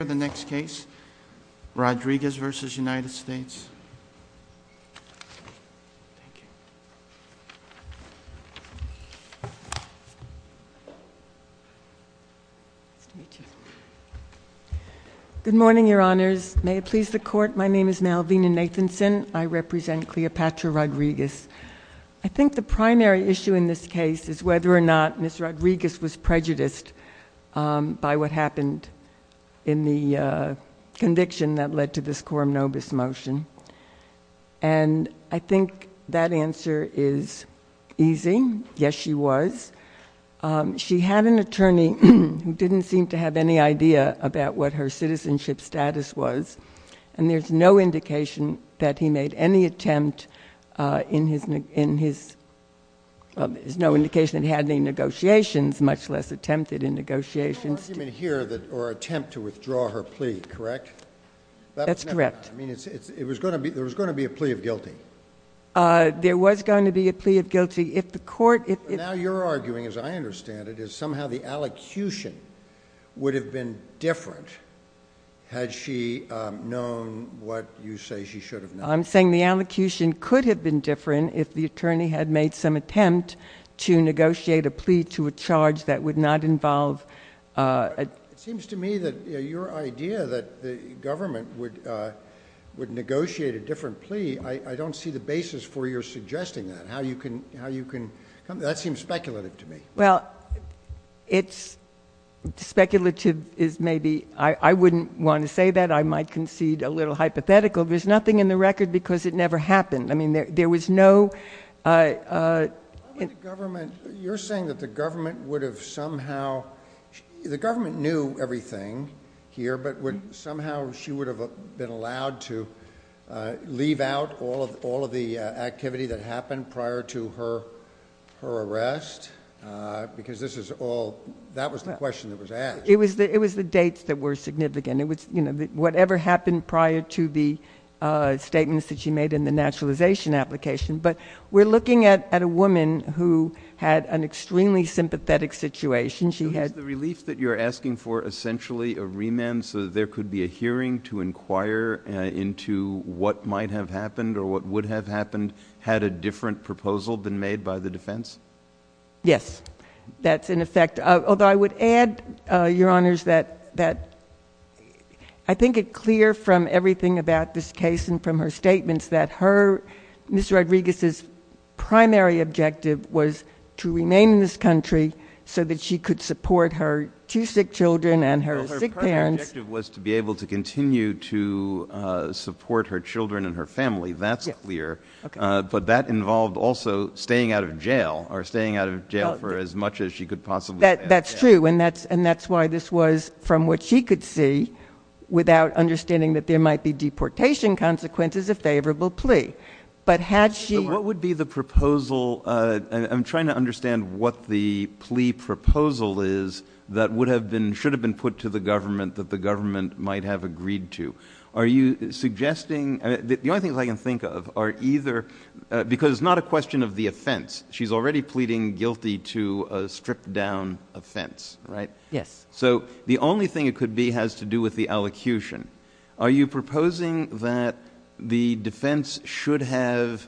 Rodriguez v. United States. Good morning, Your Honors. May it please the Court, my name is Malvina Nathanson. I represent Cleopatra Rodriguez. I think the primary issue in this case is whether or not in the conviction that led to this quorum nobis motion. And I think that answer is easy. Yes, she was. She had an attorney who didn't seem to have any idea about what her citizenship status was, and there's no indication that he made any attempt in his – well, there's no indication that he had any negotiations, much less attempted in negotiations. There was no argument here or attempt to withdraw her plea, correct? That's correct. I mean, it was going to be – there was going to be a plea of guilty. There was going to be a plea of guilty. If the Court – But now you're arguing, as I understand it, is somehow the allocution would have been different, had she known what you say she should have known. I'm saying the allocution could have been different if the attorney had made some attempt to negotiate a plea to a charge that would not involve – It seems to me that your idea that the government would negotiate a different plea, I don't see the basis for your suggesting that, how you can – that seems speculative to me. Well, it's – speculative is maybe – I wouldn't want to say that. I might concede a little hypothetical. There's nothing in the record because it never happened. I mean, there was no – Why would the government – you're saying that the government would have somehow – the government knew everything here, but would – somehow she would have been allowed to leave out all of the activity that happened prior to her arrest because this is all – that was the question that was asked. It was the dates that were significant. It was, you know, whatever happened prior to the statements that she made in the naturalization application. But we're looking at a woman who had an extremely sympathetic situation. She had – So is the relief that you're asking for essentially a remand so that there could be a hearing to inquire into what might have happened or what would have happened had a different proposal been made by the defense? Yes. That's in effect – although I would add, Your Honors, that I think it clear from everything about this case and from her statements that her – Ms. Rodriguez's primary objective was to remain in this country so that she could support her two sick children and her sick parents. Well, her primary objective was to be able to continue to support her children and her family. That's clear. Yes. Okay. But that involved also staying out of jail or staying out of jail for as much as she could possibly – That's true. And that's why this was, from what she could see, without understanding that there might be deportation consequences, a favorable plea. But had she – But what would be the proposal – I'm trying to understand what the plea proposal is that would have been – should have been put to the government that the government might have agreed to. Are you suggesting – the only things I can think of are either – because it's not a question of the offense. She's already pleading guilty to a stripped-down offense, right? Yes. So the only thing it could be has to do with the allocution. Are you proposing that the defense should have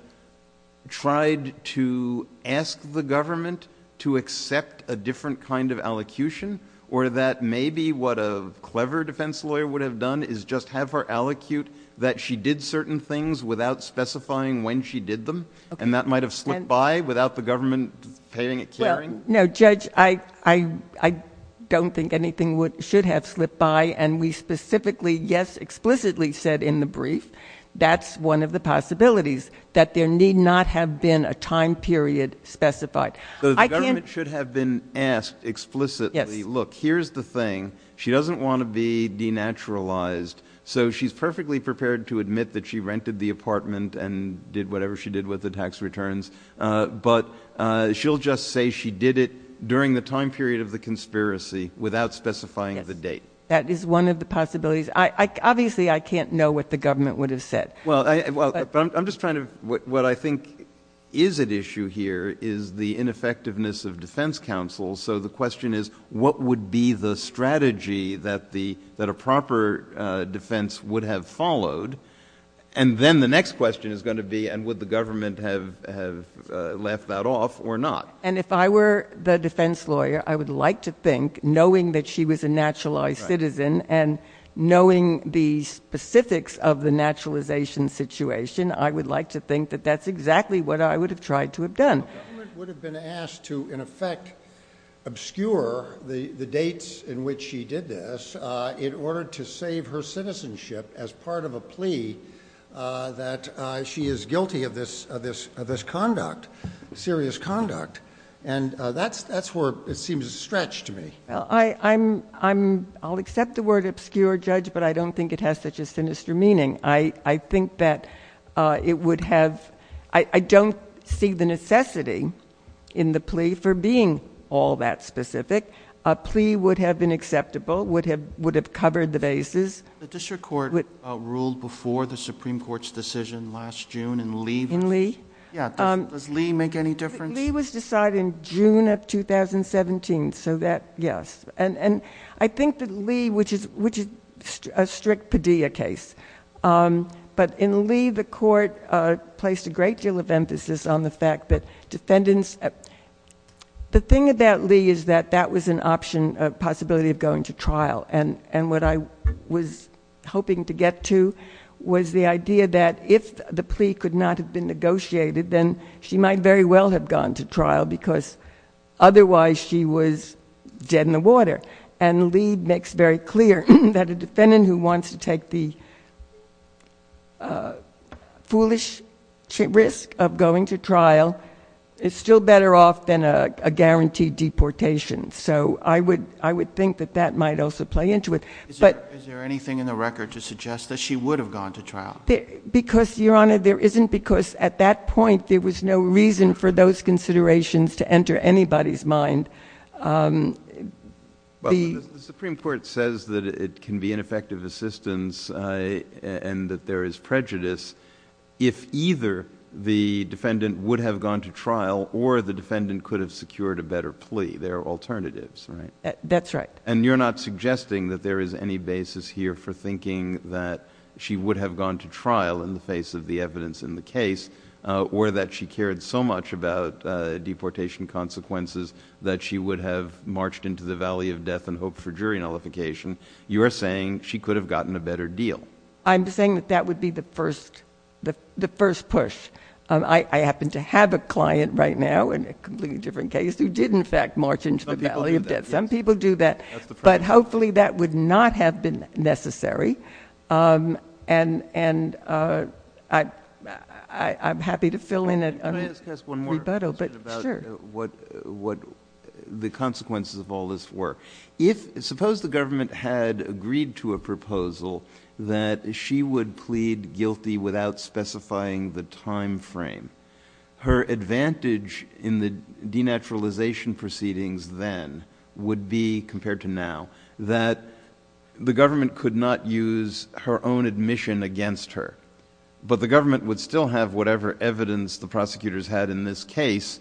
tried to ask the government to accept a different kind of allocution, or that maybe what a clever defense lawyer would have done is just have her allocute that she did certain things without specifying when she did them, and that might have slipped by without the government paying it – Well, no, Judge, I don't think anything should have slipped by. And we specifically, yes, explicitly said in the brief that's one of the possibilities, that there need not have been a time period specified. I can't – But the government should have been asked explicitly, look, here's the thing. She doesn't want to be denaturalized. So she's perfectly prepared to admit that she rented the apartment and did whatever she did with the tax returns. But she'll just say she did it during the time period of the conspiracy without specifying the date. That is one of the possibilities. Obviously, I can't know what the government would have said. Well, I'm just trying to – what I think is at issue here is the ineffectiveness of defense counsel. So the question is, what would be the strategy that a proper defense would have followed? And then the next question is going to be, and would the government have left that off or not? And if I were the defense lawyer, I would like to think, knowing that she was a naturalized citizen and knowing the specifics of the naturalization situation, I would like to think that that's exactly what I would have tried to have done. The government would have been asked to, in effect, obscure the dates in which she did this in order to save her citizenship as part of a plea that she is guilty of this conduct, serious conduct. And that's where it seems to stretch to me. I'll accept the word obscure, Judge, but I don't think it has such a sinister meaning. I think that it would have – I don't see the necessity in the plea for being all that would have covered the bases. The district court ruled before the Supreme Court's decision last June in Lee. In Lee? Yeah. Does Lee make any difference? Lee was decided in June of 2017, so that, yes. And I think that Lee, which is a strict Padilla case, but in Lee, the court placed a great deal of emphasis on the fact that the thing about Lee is that that was an option, a possibility of going to trial. And what I was hoping to get to was the idea that if the plea could not have been negotiated, then she might very well have gone to trial because otherwise she was dead in the water. And Lee makes very clear that a defendant who wants to take the foolish risk of going to trial is still better off than a guaranteed deportation. So I would think that that might also play into it. Is there anything in the record to suggest that she would have gone to trial? Because, Your Honor, there isn't because at that point there was no reason for those considerations to enter anybody's mind. The Supreme Court says that it can be ineffective assistance and that there is prejudice if either the defendant would have gone to trial or the defendant could have secured a better plea. There are alternatives, right? That's right. And you're not suggesting that there is any basis here for thinking that she would have gone to trial in the face of the evidence in the case or that she cared so much about deportation consequences that she would have marched into the valley of death and hoped for jury nullification. You are saying she could have gotten a better deal. I'm saying that that would be the first push. I happen to have a client right now in a completely different case who did, in fact, march into the valley of death. Some people do that. But hopefully that would not have been necessary. And I'm happy to fill in a rebuttal. Can I ask one more question about what the consequences of all this were? Suppose the government had agreed to a proposal that she would plead guilty without specifying the time frame. Her advantage in the denaturalization proceedings then would be, compared to now, that the government could not use her own admission against her. But the government would still have whatever evidence the prosecutors had in this case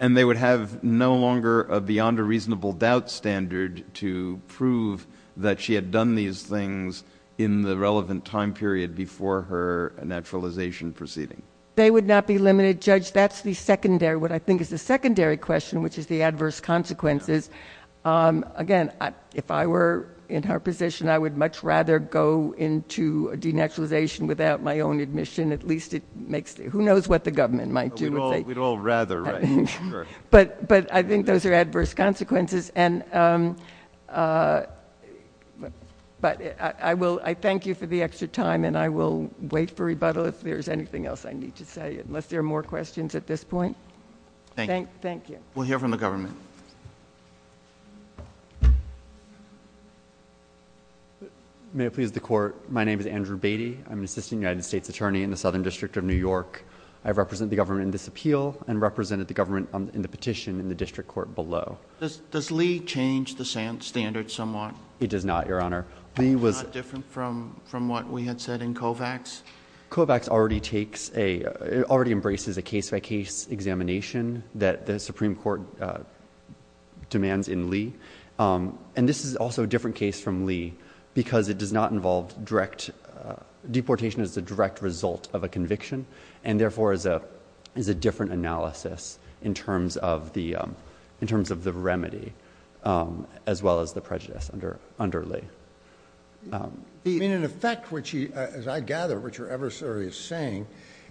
and they would have no longer a beyond a reasonable doubt standard to prove that she had done these things in the relevant time period before her denaturalization proceeding. They would not be limited. Judge, that's the secondary, what I think is the secondary question, which is the adverse consequences. Again, if I were in her position, I would much rather go into denaturalization without my own admission. At least it makes, who knows what the government might do. We'd all rather, right? But I think those are adverse consequences. But I thank you for the extra time and I will wait for rebuttal if there's anything else I need to say, unless there are more questions at this point. Thank you. We'll hear from the government. May it please the court, my name is Andrew Beatty. I'm an assistant United States attorney in the Southern District of New York. I represent the government in this appeal and represented the government in the petition in the district court below. Does Lee change the standard somewhat? It does not, your honor. It's not different from what we had said in Kovacs? Kovacs already takes a, already embraces a case by case examination that the Supreme Court demands in Lee. And this is also a different case from Lee because it does not involve direct, deportation is the direct result of a conviction and therefore is a different analysis in terms of the remedy, as well as the prejudice under Lee. In effect, as I gather what your adversary is saying,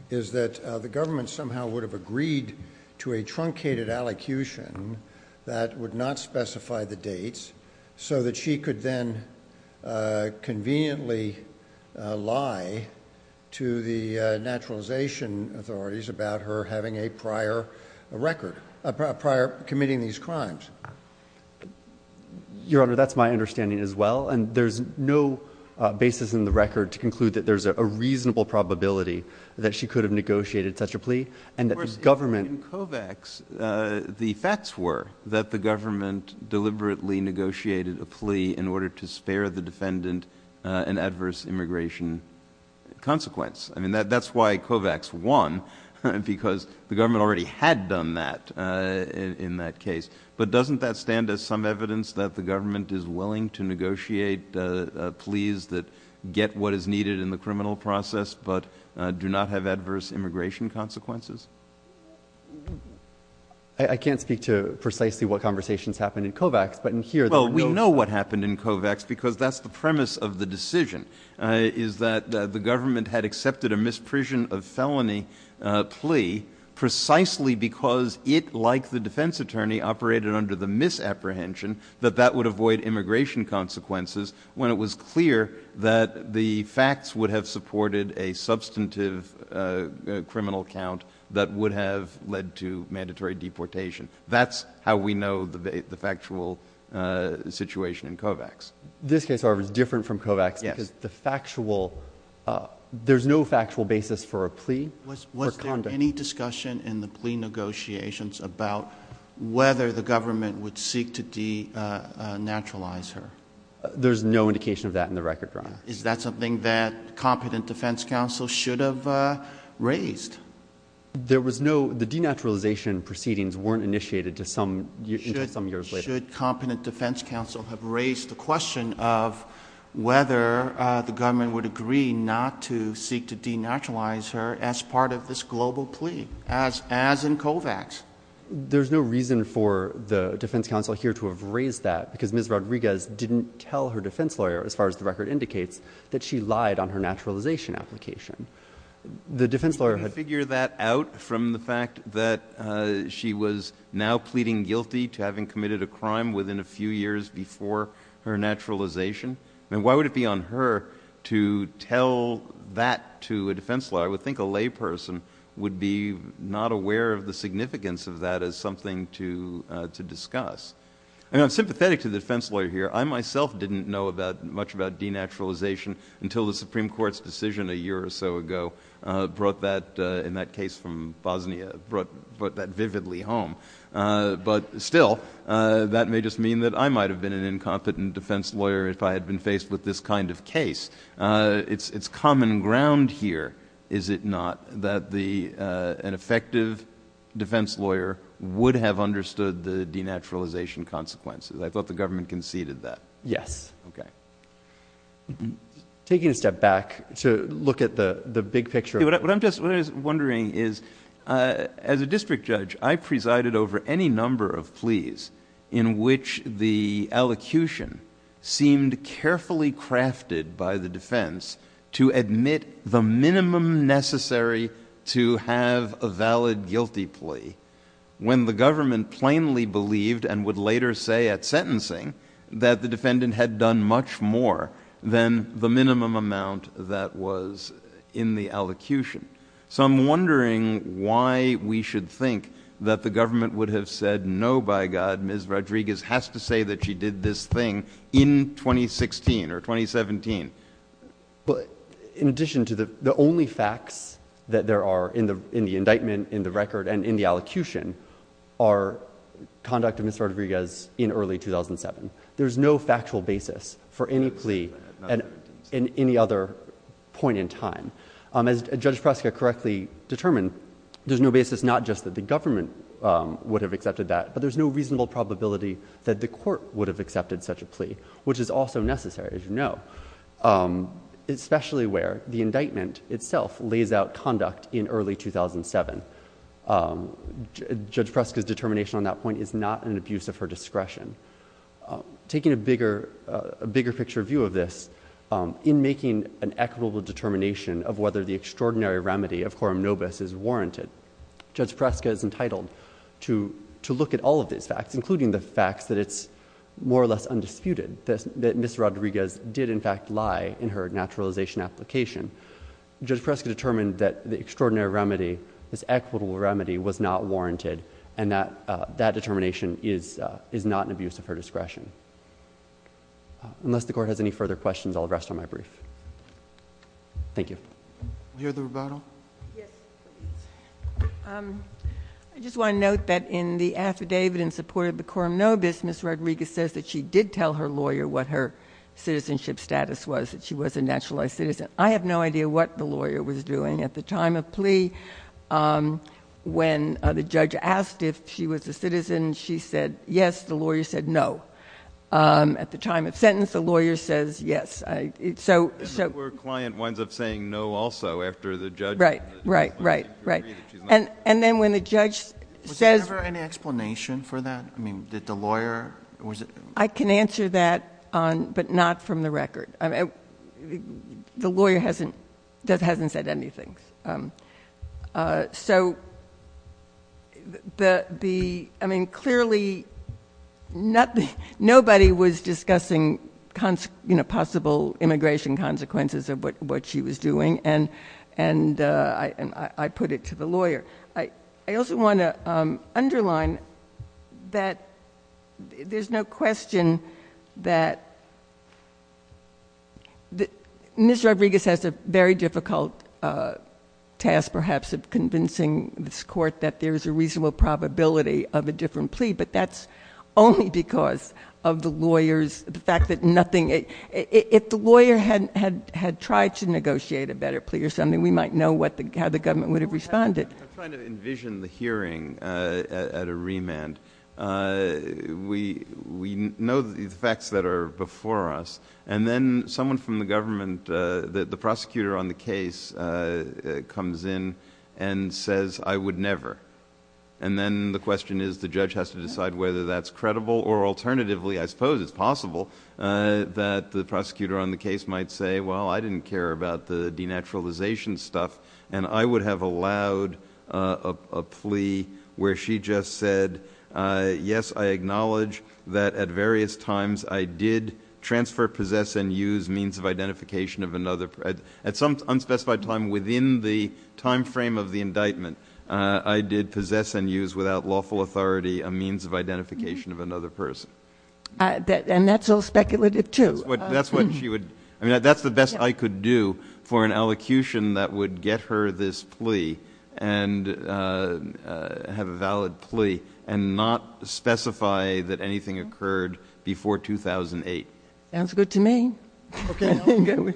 is that the government somehow would have agreed to a truncated allocution that would not specify the dates so that she could then conveniently lie to the naturalization authorities about her having a prior record, prior committing these crimes. Your honor, that's my understanding as well. And there's no basis in the record to conclude that there's a reasonable probability that she could have negotiated such a plea and that the government In Kovacs, the facts were that the government deliberately negotiated a plea in order to spare the defendant an adverse immigration consequence. I mean, that's why Kovacs won because the government already had done that in that case. But doesn't that stand as some evidence that the government is willing to negotiate pleas that get what is needed in the criminal process but do not have adverse immigration consequences? I can't speak to precisely what conversations happened in Kovacs, but in here Well, we know what happened in Kovacs because that's the premise of the decision, is that the government had accepted a misprision of felony plea precisely because it, like the defense attorney, operated under the misapprehension that that would avoid immigration consequences when it was clear that the facts would have supported a substantive criminal count that would have led to mandatory deportation. That's how we know the factual situation in Kovacs. This case, however, is different from Kovacs because the factual, there's no factual basis for a plea or condom. Was there any discussion in the plea negotiations about whether the government would seek to denaturalize her? There's no indication of that in the record, Your Honor. Is that something that competent defense counsel should have raised? There was no, the denaturalization proceedings weren't initiated until some years later. Should competent defense counsel have raised the question of whether the government would agree not to seek to denaturalize her as part of this global plea, as in Kovacs? There's no reason for the defense counsel here to have raised that because Ms. Rodriguez didn't tell her defense lawyer, as far as the record indicates, that she lied on her naturalization application. The defense lawyer had— Can you figure that out from the fact that she was now pleading guilty to having committed a crime within a few years before her naturalization? I mean, why would it be on her to tell that to a defense lawyer? I would think a layperson would be not aware of the significance of that as something to discuss. I mean, I'm sympathetic to the defense lawyer here. I myself didn't know much about denaturalization until the Supreme Court's decision a year or so ago brought that, in that case from Bosnia, brought that vividly home. But still, that may just mean that I might have been an incompetent defense lawyer if I had been faced with this kind of case. It's common ground here, is it not, that an effective defense lawyer would have understood the denaturalization consequences. I thought the government conceded that. Yes. Okay. Taking a step back to look at the big picture— What I'm just wondering is, as a district judge, I presided over any number of pleas in which the elocution seemed carefully crafted by the defense to admit the minimum necessary to have a valid guilty plea, when the government plainly believed, and would later say at sentencing, that the defendant had done much more than the minimum amount that was in the elocution. So I'm wondering why we should think that the government would have said, no, by God, Ms. Rodriguez has to say that she did this thing in 2016 or 2017. But in addition to that, the only facts that there are in the indictment, in the record, and in the elocution are conduct of Ms. Rodriguez in early 2007. There's no factual basis for any plea at any other point in time. As Judge Preska correctly determined, there's no basis not just that the government would have accepted that, but there's no reasonable probability that the court would have accepted such a plea, which is also necessary, as you know, especially where the indictment itself lays out conduct in early 2007. Judge Preska's determination on that point is not an abuse of her discretion. Taking a bigger picture view of this, in making an equitable determination of whether the extraordinary remedy of quorum nobis is warranted, Judge Preska is entitled to look at all of these facts, including the facts that it's more or less undisputed that Ms. Rodriguez did in fact lie in her naturalization application. Judge Preska determined that the extraordinary remedy, this equitable remedy, was not warranted, and that determination is not an abuse of her discretion. Unless the Court has any further questions, I'll rest on my brief. Thank you. I just want to note that in the affidavit in support of the quorum nobis, Ms. Rodriguez says that she did tell her lawyer what her citizenship status was, that she was a naturalized citizen. I have no idea what the lawyer was doing at the time of plea. When the judge asked if she was a citizen, she said yes. The lawyer said no. At the time of sentence, the lawyer says yes. And the poor client winds up saying no also after the judge has agreed that she's not a citizen. Right. And then when the judge says... Was there ever an explanation for that? I mean, did the lawyer... I can answer that, but not from the record. The lawyer hasn't said anything. Clearly, nobody was discussing possible immigration consequences of what she was doing, and I put it to the lawyer. I also want to underline that there's no question that Ms. Rodriguez has a very difficult task perhaps of convincing this Court that there's a reasonable probability of a different plea, but that's only because of the lawyer's... the fact that nothing... if the lawyer had tried to negotiate a better plea or something, we might know how the government would have responded. I'm trying to envision the hearing at a remand. We know the facts that are before us, and then someone from the government, the prosecutor on the case, comes in and says, I would never. And then the question is, the judge has to decide whether that's credible, or alternatively I suppose it's possible that the prosecutor on the case might say, well, I didn't care about the denaturalization stuff, and I would have allowed a plea where she just said, yes, I acknowledge that at various times I did transfer, possess, and use means of identification of another. At some unspecified time within the time frame of the indictment, I did possess and use without lawful authority a means of identification of another person. And that's all speculative, too. That's what she would... I mean, that's the best I could do for an allocution that would get her this plea, and have a valid plea, and not specify that anything occurred before 2008. Sounds good to me. Let me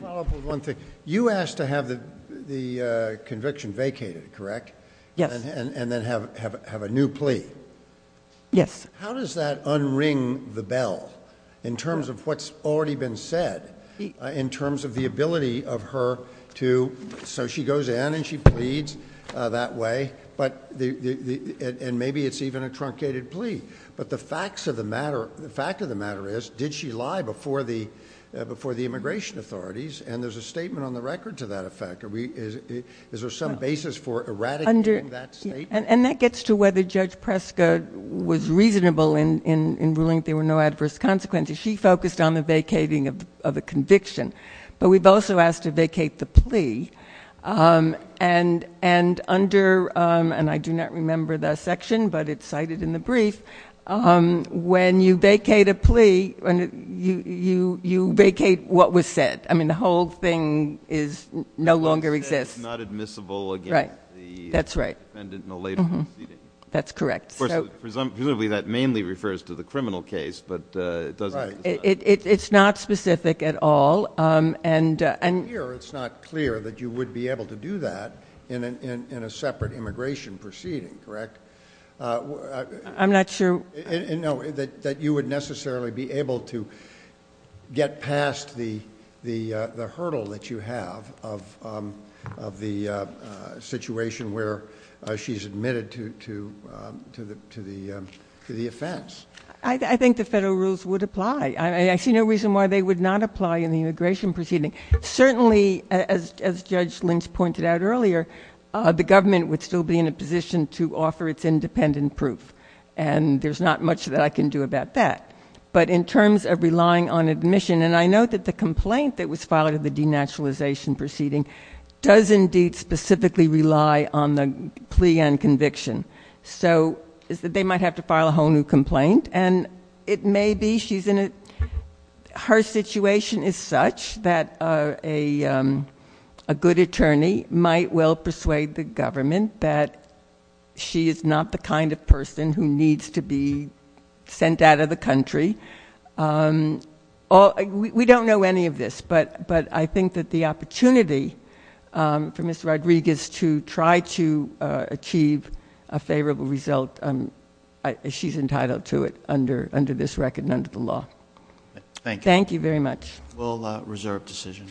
follow up with one thing. You asked to have the conviction vacated, correct? Yes. And then have a new plea. Yes. How does that unring the bell, in terms of what's already been said, in terms of the ability of her to... so she goes in and she pleads that way, and maybe it's even a question of, did she lie before the immigration authorities? And there's a statement on the record to that effect. Is there some basis for eradicating that statement? And that gets to whether Judge Preska was reasonable in ruling that there were no adverse consequences. She focused on the vacating of a conviction. But we've also asked to vacate the plea. And under... and I do not remember that section, but it's cited in the brief. When you vacate a plea, you vacate what was said. I mean, the whole thing no longer exists. What was said is not admissible against the defendant in a later proceeding. That's correct. Presumably, that mainly refers to the criminal case, but it doesn't... It's not specific at all. It's not clear that you would be able to do that in a separate immigration proceeding, correct? I'm not sure... No, that you would necessarily be able to get past the hurdle that you have of the situation where she's admitted to the offense. I think the federal rules would apply. I see no reason why they would not apply in the immigration proceeding. Certainly, as Judge Lynch pointed out earlier, the government would still be in a position to offer its independent proof, and there's not much that I can do about that. But in terms of relying on admission, and I know that the complaint that was filed in the denaturalization proceeding does indeed specifically rely on the plea and conviction. So, they might have to file a whole new complaint, and it may be she's Her situation is such that a good attorney might well persuade the government that she is not the kind of person who needs to be sent out of the country. We don't know any of this, but I think that the opportunity for Ms. Rodriguez to try to achieve a favorable result, she's entitled to it under this record and under the law. Thank you. Thank you very much. We'll reserve decision.